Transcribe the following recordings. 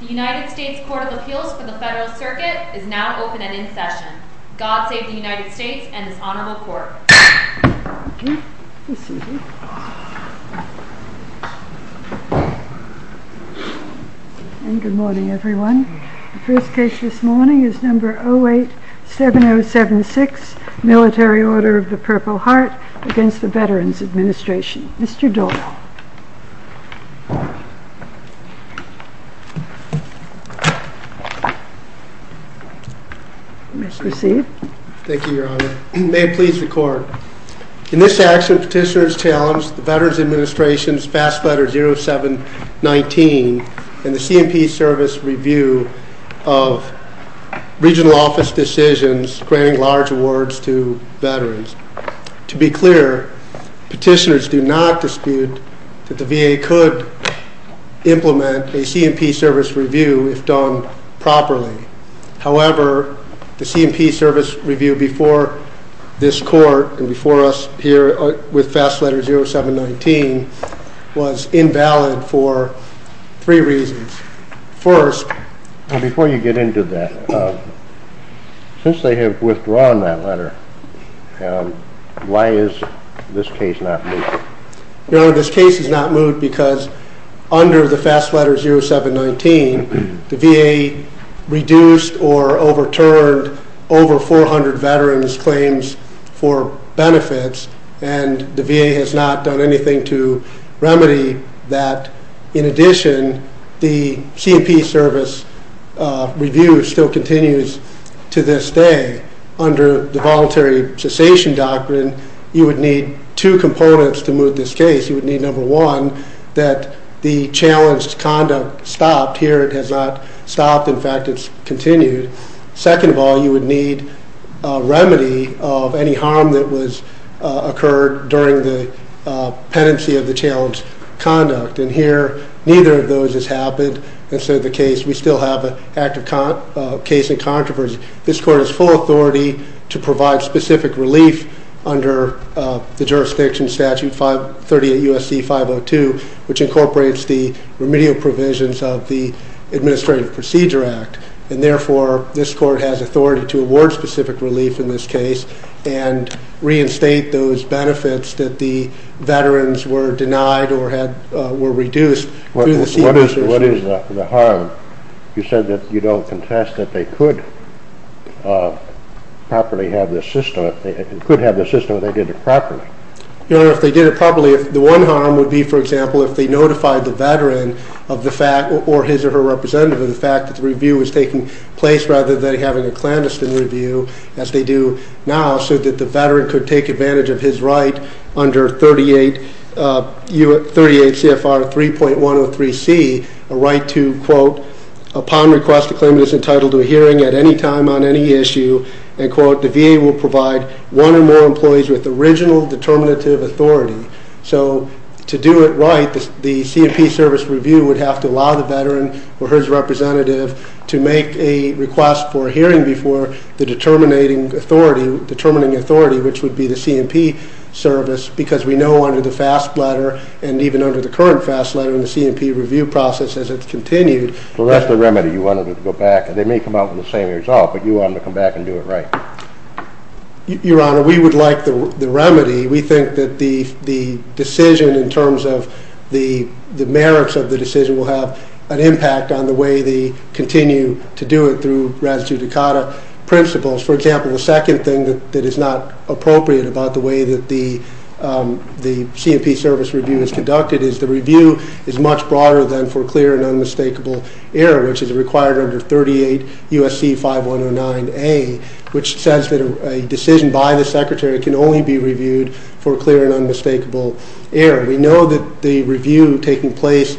The United States Court of Appeals for the Federal Circuit is now open and in session. God Save the United States and this Honorable Court. Good morning everyone. The first case this morning is number 087076 Military Order of the Purple Heart against the Veterans Administration. Mr. Doyle. Mr. Seed. Thank you Your Honor. May it please the Court. In this action, petitioners challenge the Veterans Administration's Fast Letter 0719 and the C&P Service review of regional office decisions granting large awards to veterans. To be clear, petitioners do not dispute that the VA could implement a C&P Service review if done properly. However, the C&P Service review before this Court and before us here with Fast Letter 0719 was invalid for three reasons. Before you get into that, since they have withdrawn that letter, why is this case not moved? Your Honor, this case is not moved because under the Fast Letter 0719, the VA reduced or overturned over 400 veterans' claims for benefits and the VA has not done anything to remedy that. In addition, the C&P Service review still continues to this day. Under the Voluntary Cessation Doctrine, you would need two components to move this case. You would need, number one, that the challenged conduct stopped. Here, it has not stopped. In fact, it's continued. Second of all, you would need a remedy of any harm that occurred during the pendency of the challenged conduct. And here, neither of those has happened, and so we still have an active case in controversy. This Court has full authority to provide specific relief under the Jurisdiction Statute 38 U.S.C. 502, which incorporates the remedial provisions of the Administrative Procedure Act. And therefore, this Court has authority to award specific relief in this case and reinstate those benefits that the veterans were denied or were reduced through the C&P Service. What is the harm? You said that you don't contest that they could properly have this system. They could have this system if they did it properly. Your Honor, if they did it properly, the one harm would be, for example, if they notified the veteran or his or her representative of the fact that the review was taking place rather than having a clandestine review, as they do now, so that the veteran could take advantage of his right under 38 CFR 3.103C, a right to, quote, So to do it right, the C&P Service review would have to allow the veteran or his representative to make a request for a hearing before the determining authority, which would be the C&P Service, because we know under the FAST letter and even under the current FAST letter in the C&P review process, as it's continued... Well, that's the remedy. You wanted it to go back, and they may come out with the same result, but you wanted to come back and do it right. Your Honor, we would like the remedy. We think that the decision in terms of the merits of the decision will have an impact on the way they continue to do it through res judicata principles. For example, the second thing that is not appropriate about the way that the C&P Service review is conducted is the review is much broader than for clear and unmistakable error, which is required under 38 U.S.C. 5109A, which says that a decision by the Secretary can only be reviewed for clear and unmistakable error. We know that the review taking place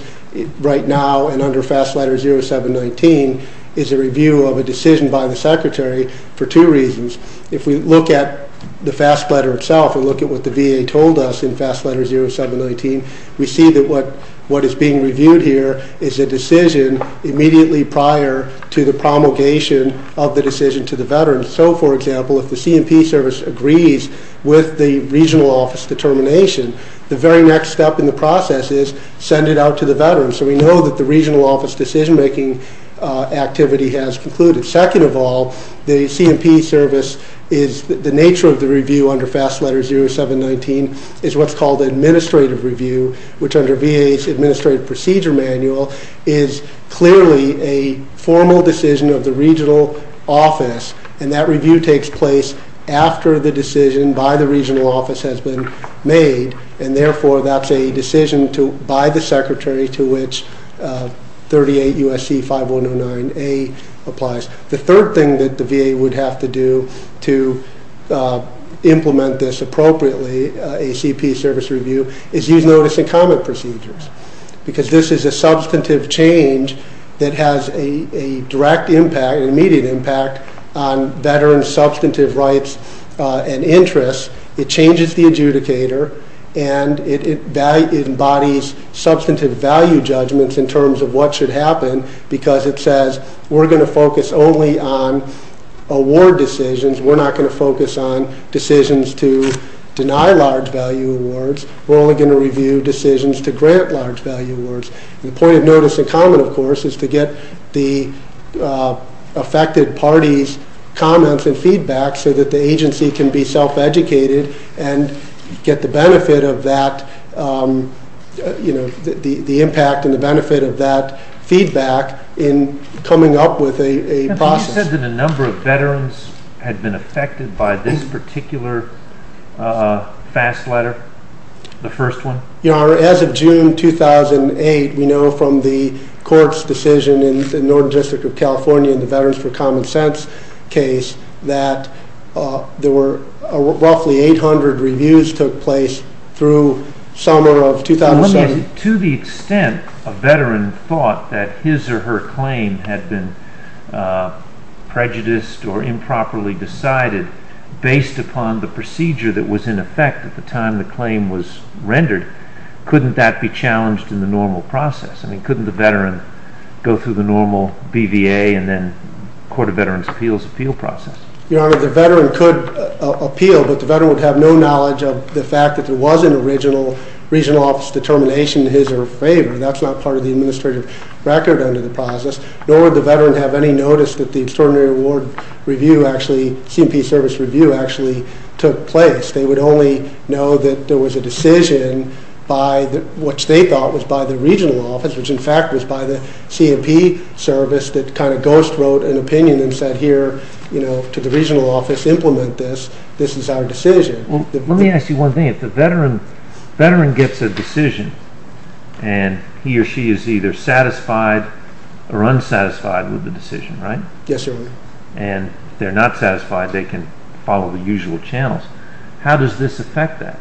right now and under FAST letter 0719 is a review of a decision by the Secretary for two reasons. If we look at the FAST letter itself and look at what the VA told us in FAST letter 0719, we see that what is being reviewed here is a decision immediately prior to the promulgation of the decision to the veteran. So, for example, if the C&P Service agrees with the regional office determination, the very next step in the process is send it out to the veteran. So we know that the regional office decision-making activity has concluded. Second of all, the C&P Service is – the nature of the review under FAST letter 0719 is what's called administrative review, which under VA's Administrative Procedure Manual is clearly a formal decision of the regional office. And that review takes place after the decision by the regional office has been made, and therefore that's a decision by the Secretary to which 38 U.S.C. 5109A applies. The third thing that the VA would have to do to implement this appropriately, a C&P Service review, is use notice and comment procedures, because this is a substantive change that has a direct impact, an immediate impact, on veterans' substantive rights and interests. It changes the adjudicator, and it embodies substantive value judgments in terms of what should happen, because it says we're going to focus only on award decisions. We're not going to focus on decisions to deny large value awards. We're only going to review decisions to grant large value awards. The point of notice and comment, of course, is to get the affected party's comments and feedback so that the agency can be self-educated and get the benefit of that, you know, the impact and the benefit of that feedback in coming up with a process. Have you said that a number of veterans had been affected by this particular FAST letter, the first one? You know, as of June 2008, we know from the court's decision in the Northern District of California in the Veterans for Common Sense case that there were roughly 800 reviews took place through summer of 2007. To the extent a veteran thought that his or her claim had been prejudiced or improperly decided based upon the procedure that was in effect at the time the claim was rendered, couldn't that be challenged in the normal process? I mean, couldn't the veteran go through the normal BVA and then Court of Veterans' Appeals appeal process? Your Honor, the veteran could appeal, but the veteran would have no knowledge of the fact that there was an original regional office determination in his or her favor. That's not part of the administrative record under the process, nor would the veteran have any notice that the Extraordinary Award Review actually, C&P Service Review actually took place. They would only know that there was a decision by what they thought was by the regional office, which in fact was by the C&P Service that kind of ghost wrote an opinion and said here, you know, to the regional office, implement this, this is our decision. Let me ask you one thing. If the veteran gets a decision and he or she is either satisfied or unsatisfied with the decision, right? Yes, Your Honor. And if they're not satisfied, they can follow the usual channels. How does this affect that?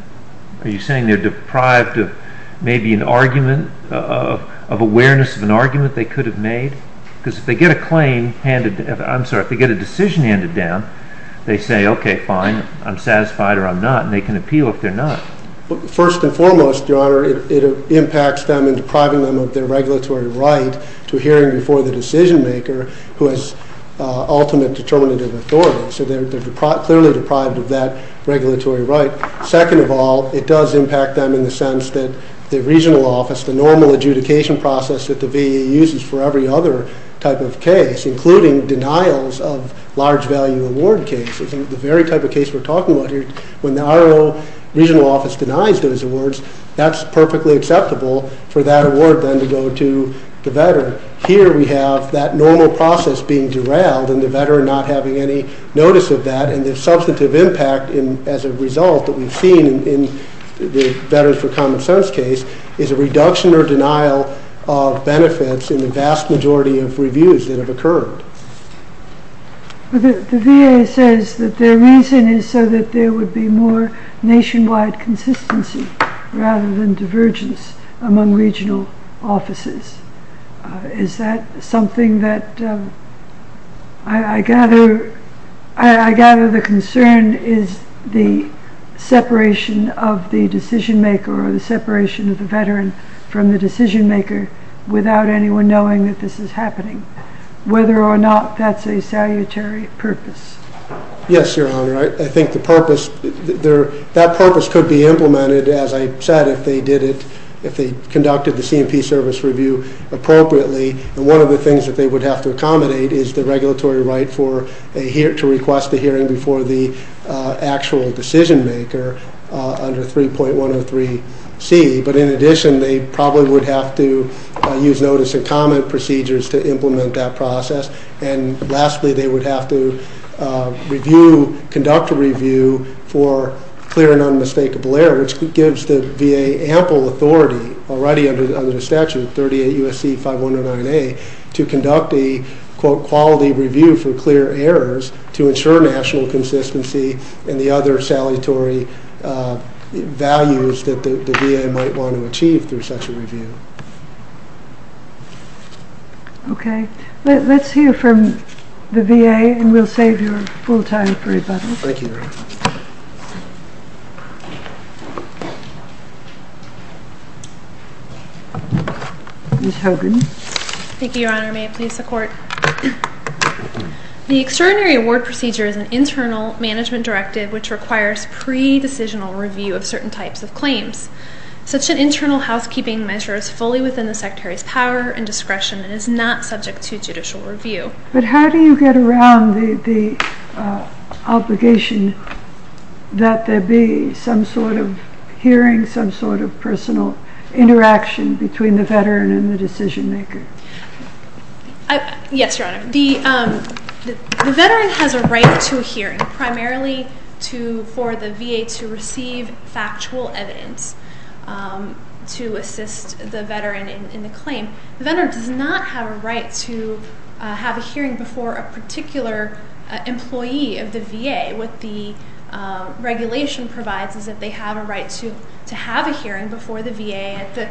Are you saying they're deprived of maybe an argument, of awareness of an argument they could have made? Because if they get a claim handed, I'm sorry, if they get a decision handed down, they say, okay, fine, I'm satisfied or I'm not, and they can appeal if they're not. First and foremost, Your Honor, it impacts them in depriving them of their regulatory right to hearing before the decision maker who has ultimate determinative authority. So they're clearly deprived of that regulatory right. Second of all, it does impact them in the sense that the regional office, the normal adjudication process that the VA uses for every other type of case, including denials of large value award cases. The very type of case we're talking about here, when the RO regional office denies those awards, that's perfectly acceptable for that award then to go to the veteran. Here we have that normal process being derailed and the veteran not having any notice of that and the substantive impact as a result that we've seen in the Veterans for Common Sense case is a reduction or denial of benefits in the vast majority of reviews that have occurred. The VA says that their reason is so that there would be more nationwide consistency rather than divergence among regional offices. Is that something that I gather the concern is the separation of the decision maker or the separation of the veteran from the decision maker without anyone knowing that this is happening. Whether or not that's a salutary purpose. Yes, Your Honor. I think the purpose, that purpose could be implemented, as I said, if they did it, if they conducted the C&P service review appropriately. And one of the things that they would have to accommodate is the regulatory right to request a hearing before the actual decision maker under 3.103C. But in addition, they probably would have to use notice and comment procedures to implement that process. And lastly, they would have to review, conduct a review for clear and unmistakable error, which gives the VA ample authority already under the statute, 38 U.S.C. 5109A, to conduct a, quote, quality review for clear errors to ensure national consistency and the other salutary values that the VA might want to achieve through such a review. Okay. Let's hear from the VA, and we'll save your full time for rebuttal. Thank you, Your Honor. Ms. Hogan. Thank you, Your Honor. May it please the Court. The extraordinary award procedure is an internal management directive which requires pre-decisional review of certain types of claims. Such an internal housekeeping measure is fully within the Secretary's power and discretion and is not subject to judicial review. But how do you get around the obligation that there be some sort of hearing, some sort of personal interaction between the veteran and the decision maker? Yes, Your Honor. The veteran has a right to a hearing, primarily for the VA to receive factual evidence to assist the veteran in the claim. The veteran does not have a right to have a hearing before a particular employee of the VA. What the regulation provides is that they have a right to have a hearing before the VA at the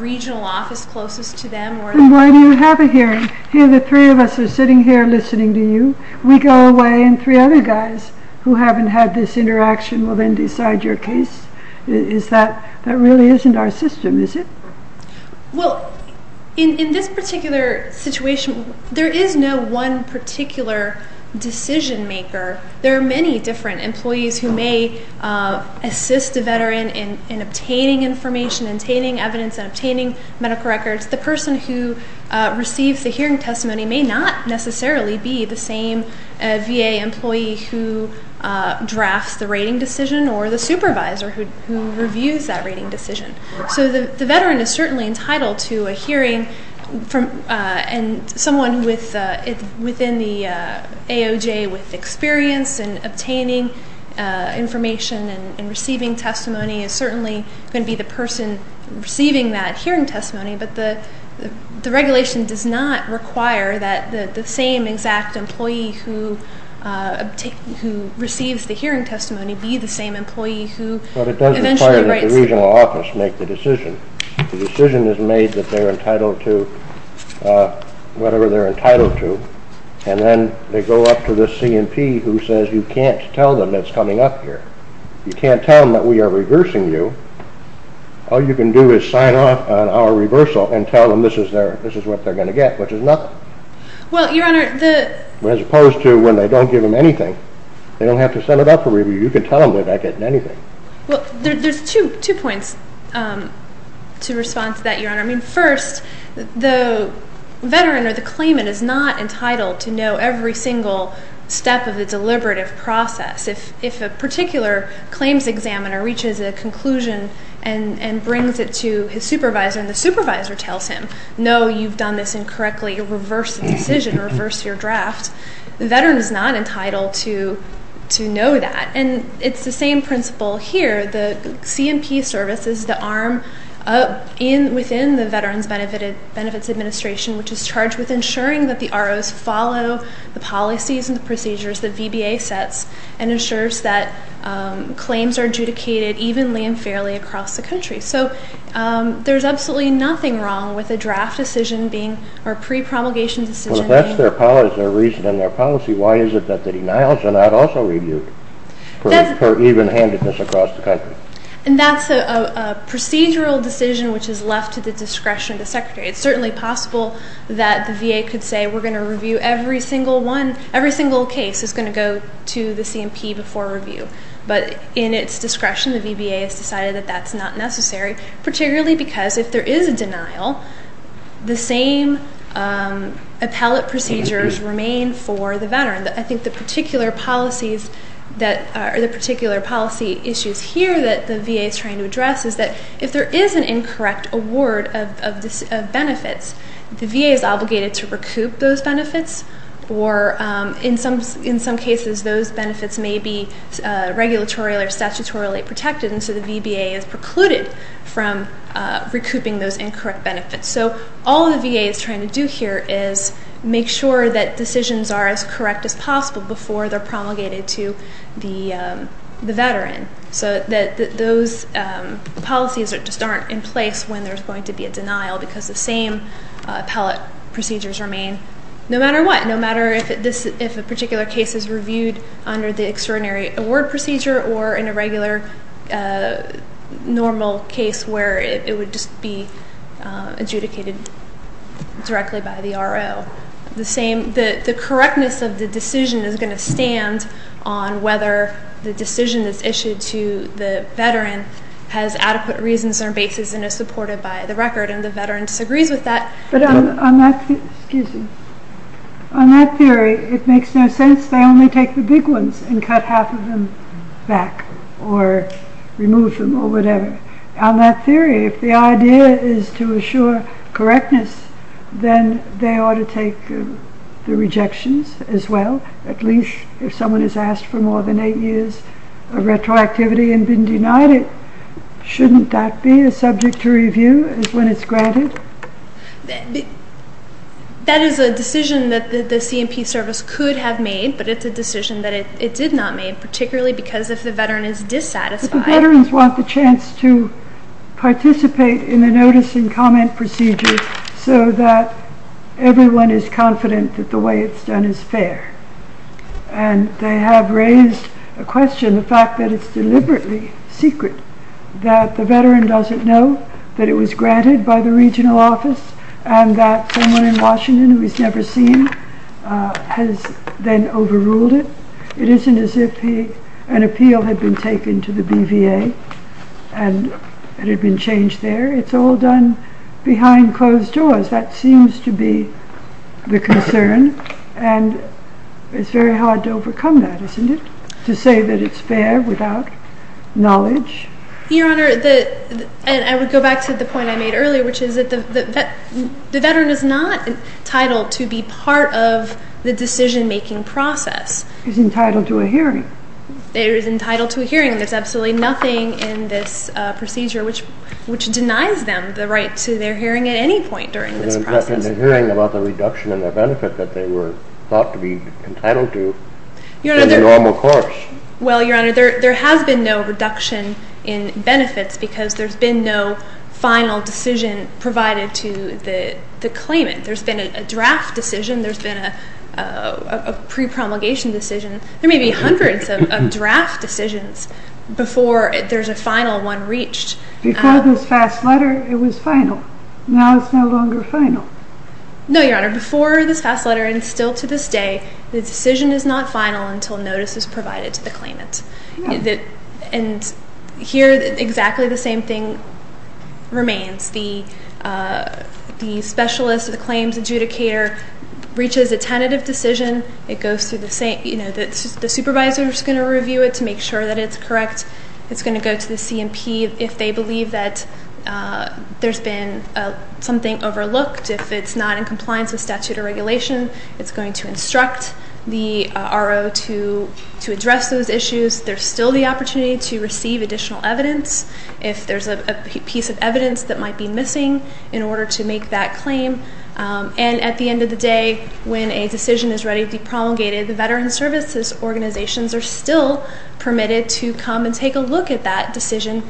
regional office closest to them. And why do you have a hearing? Here the three of us are sitting here listening to you. We go away and three other guys who haven't had this interaction will then decide your case. That really isn't our system, is it? Well, in this particular situation, there is no one particular decision maker. There are many different employees who may assist a veteran in obtaining information, obtaining evidence, and obtaining medical records. The person who receives the hearing testimony may not necessarily be the same VA employee who drafts the rating decision or the supervisor who reviews that rating decision. So the veteran is certainly entitled to a hearing, and someone within the AOJ with experience in obtaining information and receiving testimony is certainly going to be the person receiving that hearing testimony. But the regulation does not require that the same exact employee who receives the hearing testimony be the same employee who eventually writes it. It's up to the regional office to make the decision. The decision is made that they're entitled to whatever they're entitled to. And then they go up to the C&P who says you can't tell them it's coming up here. You can't tell them that we are reversing you. All you can do is sign off on our reversal and tell them this is what they're going to get, which is nothing. Well, Your Honor, the... As opposed to when they don't give them anything. They don't have to send it up for review. You can tell them they're not getting anything. Well, there's two points to respond to that, Your Honor. I mean, first, the veteran or the claimant is not entitled to know every single step of the deliberative process. If a particular claims examiner reaches a conclusion and brings it to his supervisor, and the supervisor tells him, no, you've done this incorrectly, you reversed the decision, reversed your draft, the veteran is not entitled to know that. And it's the same principle here. The C&P service is the arm within the Veterans Benefits Administration, which is charged with ensuring that the ROs follow the policies and the procedures that VBA sets and ensures that claims are adjudicated evenly and fairly across the country. So there's absolutely nothing wrong with a draft decision being or pre-promulgation decision being... for even handedness across the country. And that's a procedural decision which is left to the discretion of the secretary. It's certainly possible that the VA could say we're going to review every single one, every single case is going to go to the C&P before review. But in its discretion, the VBA has decided that that's not necessary, particularly because if there is a denial, the same appellate procedures remain for the veteran. I think the particular policy issues here that the VA is trying to address is that if there is an incorrect award of benefits, the VA is obligated to recoup those benefits, or in some cases those benefits may be regulatory or statutorily protected, and so the VBA is precluded from recouping those incorrect benefits. So all the VA is trying to do here is make sure that decisions are as correct as possible before they're promulgated to the veteran, so that those policies just aren't in place when there's going to be a denial because the same appellate procedures remain no matter what, no matter if a particular case is reviewed under the extraordinary award procedure or in a regular normal case where it would just be adjudicated directly by the RO. The correctness of the decision is going to stand on whether the decision that's issued to the veteran has adequate reasons or basis and is supported by the record, and the veteran disagrees with that. But on that theory, it makes no sense. They only take the big ones and cut half of them back or remove them or whatever. On that theory, if the idea is to assure correctness, then they ought to take the rejections as well, at least if someone has asked for more than eight years of retroactivity and been denied it. Shouldn't that be a subject to review when it's granted? That is a decision that the C&P service could have made, but it's a decision that it did not make, particularly because if the veteran is dissatisfied... But the veterans want the chance to participate in the notice and comment procedure so that everyone is confident that the way it's done is fair. And they have raised a question, the fact that it's deliberately secret, that the veteran doesn't know that it was granted by the regional office and that someone in Washington who he's never seen has then overruled it. It isn't as if an appeal had been taken to the BVA and it had been changed there. It's all done behind closed doors. That seems to be the concern. And it's very hard to overcome that, isn't it, to say that it's fair without knowledge? Your Honor, I would go back to the point I made earlier, which is that the veteran is not entitled to be part of the decision-making process. He's entitled to a hearing. He is entitled to a hearing. There's absolutely nothing in this procedure which denies them the right to their hearing at any point during this process. And the hearing about the reduction in their benefit that they were thought to be entitled to is a normal course. Well, Your Honor, there has been no reduction in benefits because there's been no final decision provided to the claimant. There's been a draft decision. There's been a pre-promulgation decision. There may be hundreds of draft decisions before there's a final one reached. Before this fast letter, it was final. Now it's no longer final. No, Your Honor, before this fast letter and still to this day, the decision is not final until notice is provided to the claimant. And here exactly the same thing remains. The specialist, the claims adjudicator, reaches a tentative decision. It goes through the same, you know, the supervisor is going to review it to make sure that it's correct. It's going to go to the C&P. If they believe that there's been something overlooked, if it's not in compliance with statute or regulation, it's going to instruct the RO to address those issues. There's still the opportunity to receive additional evidence if there's a piece of evidence that might be missing in order to make that claim. And at the end of the day, when a decision is ready to be promulgated, the veteran services organizations are still permitted to come and take a look at that decision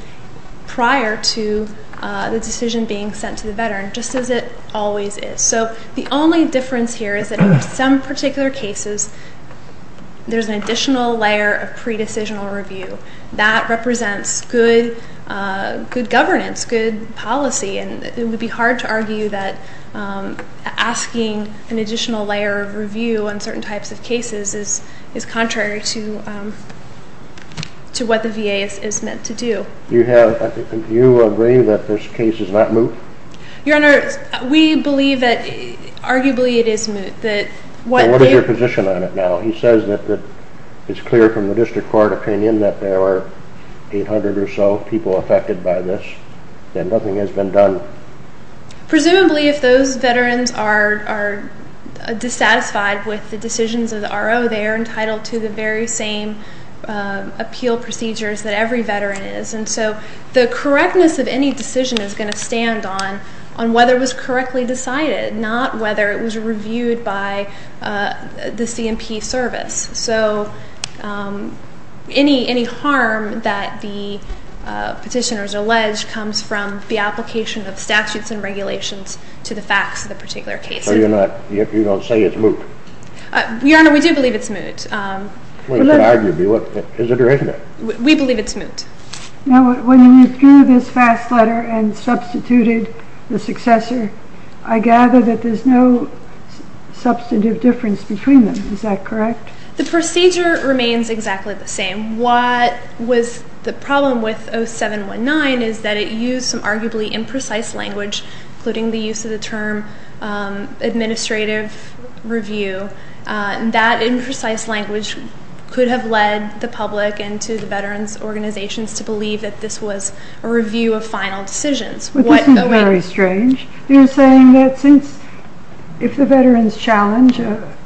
prior to the decision being sent to the veteran, just as it always is. So the only difference here is that in some particular cases, there's an additional layer of pre-decisional review. That represents good governance, good policy, and it would be hard to argue that asking an additional layer of review on certain types of cases is contrary to what the VA is meant to do. Do you agree that this case is not moot? Your Honor, we believe that arguably it is moot. What is your position on it now? He says that it's clear from the district court opinion that there are 800 or so people affected by this, that nothing has been done. Presumably if those veterans are dissatisfied with the decisions of the RO, they are entitled to the very same appeal procedures that every veteran is. And so the correctness of any decision is going to stand on whether it was correctly decided, not whether it was reviewed by the C&P service. So any harm that the petitioners allege comes from the application of statutes and regulations to the facts of the particular cases. So you're not going to say it's moot? Your Honor, we do believe it's moot. Well, it could argue to be. Is it or isn't it? We believe it's moot. Now, when you threw this fast letter and substituted the successor, I gather that there's no substantive difference between them. Is that correct? The procedure remains exactly the same. What was the problem with 0719 is that it used some arguably imprecise language, including the use of the term administrative review. That imprecise language could have led the public and to the veterans' organizations to believe that this was a review of final decisions. But this is very strange. You're saying that if the veterans challenge,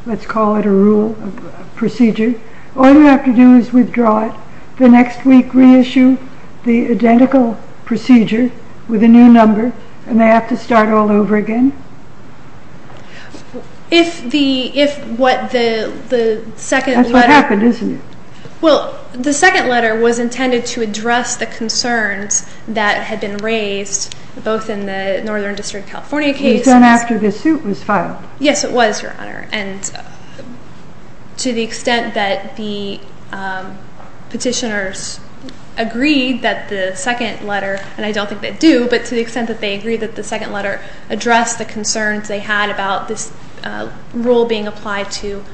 let's call it a rule, a procedure, all you have to do is withdraw it. The next week reissue the identical procedure with a new number, and they have to start all over again? That's what happened, isn't it? Well, the second letter was intended to address the concerns that had been raised both in the Northern District of California case. It was done after the suit was filed. Yes, it was, Your Honor. And to the extent that the petitioners agreed that the second letter, and I don't think they do, but to the extent that they agreed that the second letter addressed the concerns they had about this rule being applied to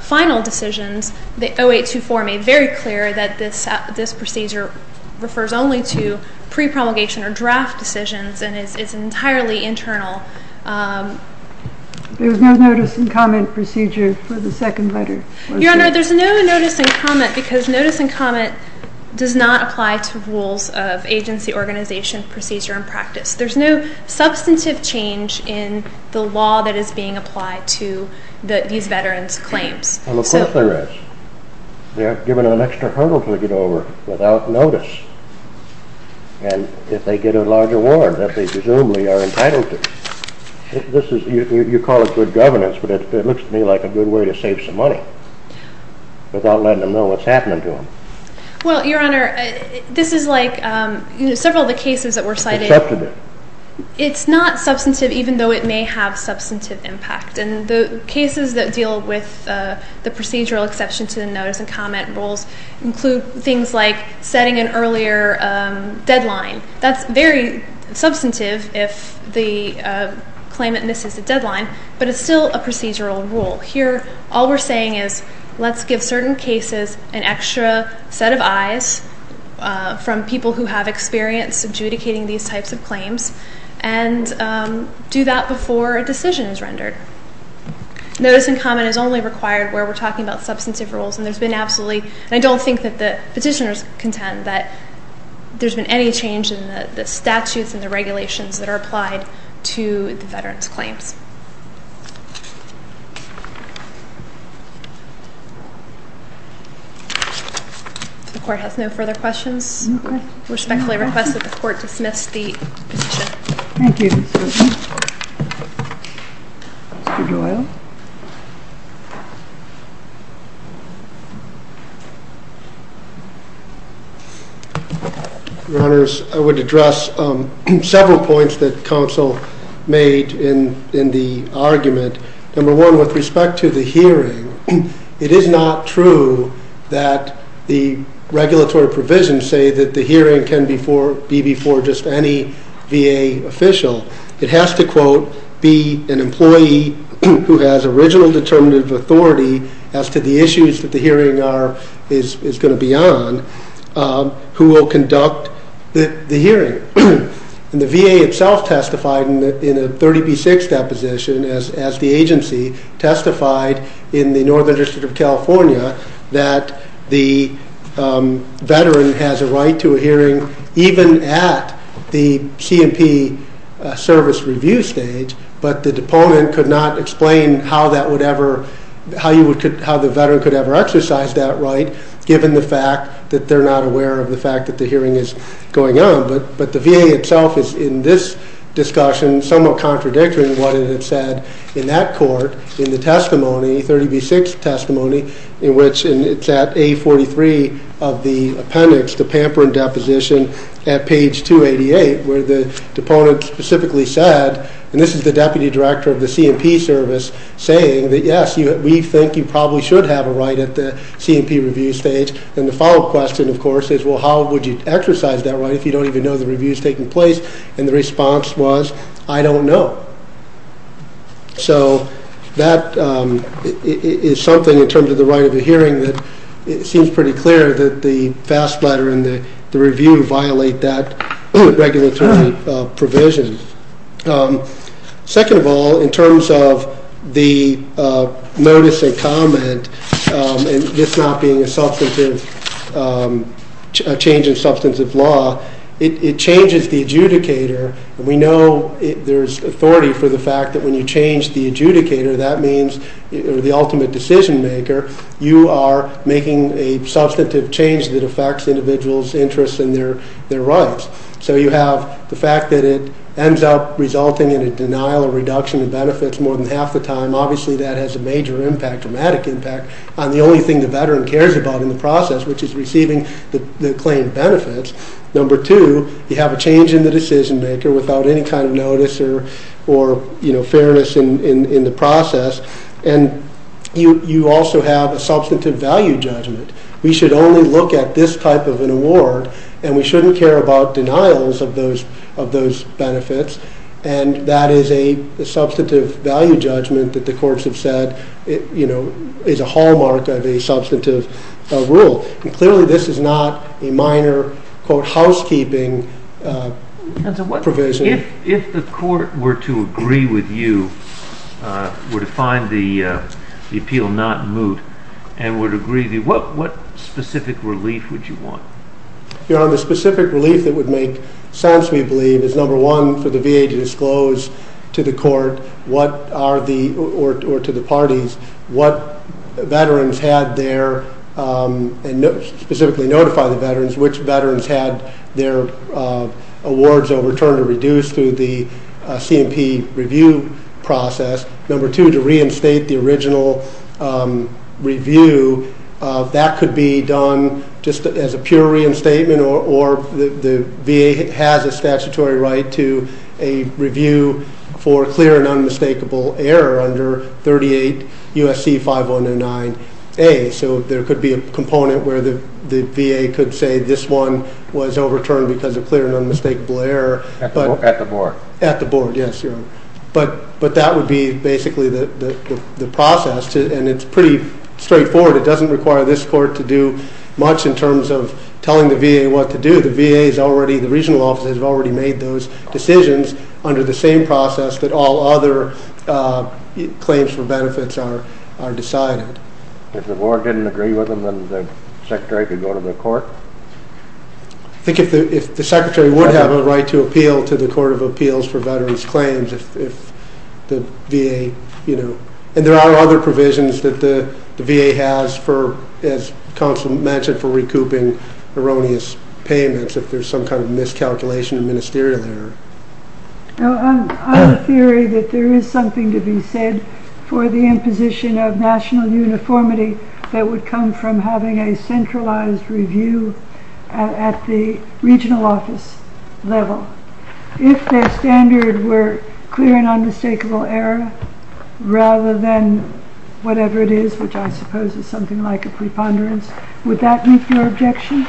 final decisions, the 0824 made very clear that this procedure refers only to pre-promulgation or draft decisions and is entirely internal. There was no notice and comment procedure for the second letter? Your Honor, there's no notice and comment because notice and comment does not apply to rules of agency, organization, procedure, and practice. There's no substantive change in the law that is being applied to these veterans' claims. Well, of course there is. They are given an extra hurdle to get over without notice and if they get a large award that they presumably are entitled to. You call it good governance, but it looks to me like a good way to save some money without letting them know what's happening to them. Well, Your Honor, this is like several of the cases that were cited. It's substantive. It's not substantive even though it may have substantive impact. The cases that deal with the procedural exception to the notice and comment rules include things like setting an earlier deadline. That's very substantive if the claimant misses the deadline, but it's still a procedural rule. Here all we're saying is let's give certain cases an extra set of eyes from people who have experience adjudicating these types of claims and do that before a decision is rendered. Notice and comment is only required where we're talking about substantive rules and I don't think that the petitioners contend that there's been any change in the statutes and the regulations that are applied to the veterans' claims. If the Court has no further questions, I respectfully request that the Court dismiss the petition. Thank you, Ms. Whitman. Mr. Doyle. Your Honors, I would address several points that counsel made in the argument. Number one, with respect to the hearing, it is not true that the regulatory provisions say that the hearing can be before just any VA official. It has to, quote, be an employee who has original determinative authority as to the issues that the hearing is going to be on who will conduct the hearing. The VA itself testified in a 30B6 deposition as the agency testified in the Northern District of California that the veteran has a right to a hearing even at the C&P service review stage, but the deponent could not explain how the veteran could ever exercise that right given the fact that they're not aware of the fact that the hearing is going on. But the VA itself is, in this discussion, somewhat contradicting what it had said in that court in the testimony, 30B6 testimony, in which it's at A43 of the appendix, the Pamperin deposition, at page 288, where the deponent specifically said, and this is the deputy director of the C&P service, saying that, yes, we think you probably should have a right at the C&P review stage. And the follow-up question, of course, is, well, how would you exercise that right if you don't even know the review is taking place? And the response was, I don't know. So that is something in terms of the right of a hearing that it seems pretty clear that the FAST letter and the review violate that regulatory provision. Second of all, in terms of the notice and comment, and this not being a change in substantive law, it changes the adjudicator. And we know there's authority for the fact that when you change the adjudicator, that means the ultimate decision-maker, you are making a substantive change that affects individuals' interests and their rights. So you have the fact that it ends up resulting in a denial or reduction in benefits more than half the time. Obviously, that has a major impact, dramatic impact, on the only thing the veteran cares about in the process, which is receiving the claimed benefits. Number two, you have a change in the decision-maker without any kind of notice or fairness in the process. And you also have a substantive value judgment. We should only look at this type of an award, and we shouldn't care about denials of those benefits, and that is a substantive value judgment that the courts have said is a hallmark of a substantive rule. Clearly, this is not a minor, quote, housekeeping provision. If the court were to agree with you, were to find the appeal not moot, and were to agree with you, what specific relief would you want? The specific relief that would make sense, we believe, is number one, for the VA to disclose to the court or to the parties what veterans had their, and specifically notify the veterans, which veterans had their awards overturned or reduced through the C&P review process. Number two, to reinstate the original review, that could be done just as a pure reinstatement, or the VA has a statutory right to a review for clear and unmistakable error under 38 U.S.C. 5109A. So there could be a component where the VA could say this one was overturned because of clear and unmistakable error. At the board. At the board, yes. But that would be basically the process, and it's pretty straightforward. It doesn't require this court to do much in terms of telling the VA what to do. The VA is already, the regional offices have already made those decisions under the same process that all other claims for benefits are decided. If the board didn't agree with them, then the secretary could go to the court? Or appeal to the court of appeals for veterans' claims if the VA, you know. And there are other provisions that the VA has for, as counsel mentioned, for recouping erroneous payments if there's some kind of miscalculation in ministerial error. I'm of the theory that there is something to be said for the imposition of national uniformity that would come from having a centralized review at the regional office level. If their standard were clear and unmistakable error rather than whatever it is, which I suppose is something like a preponderance, would that meet your objection,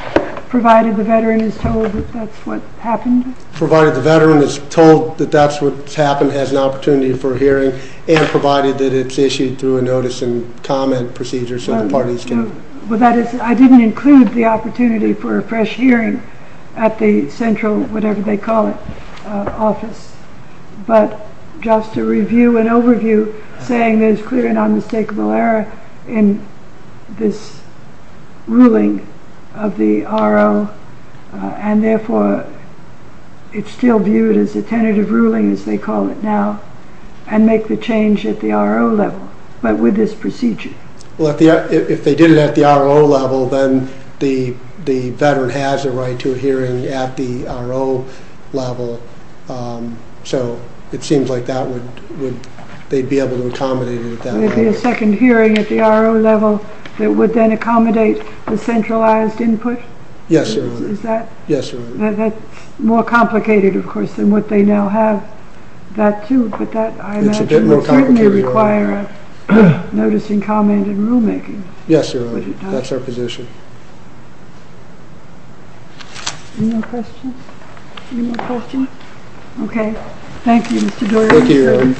provided the veteran is told that that's what happened? Provided the veteran is told that that's what's happened, has an opportunity for hearing, and provided that it's issued through a notice and comment procedure so the parties can. Well, that is, I didn't include the opportunity for a fresh hearing at the central, whatever they call it, office. But just to review an overview saying there's clear and unmistakable error in this ruling of the RO, and therefore it's still viewed as a tentative ruling as they call it now, and make the change at the RO level. But with this procedure. Well, if they did it at the RO level, then the veteran has a right to a hearing at the RO level. So it seems like they'd be able to accommodate it at that level. Would there be a second hearing at the RO level that would then accommodate the centralized input? Yes, Your Honor. Is that? Yes, Your Honor. That's more complicated, of course, than what they now have. That too, but that, I imagine, would certainly require a noticing comment and rulemaking. Yes, Your Honor. That's our position. Any more questions? Any more questions? Thank you, Mr. Dory. Thank you, Your Honor.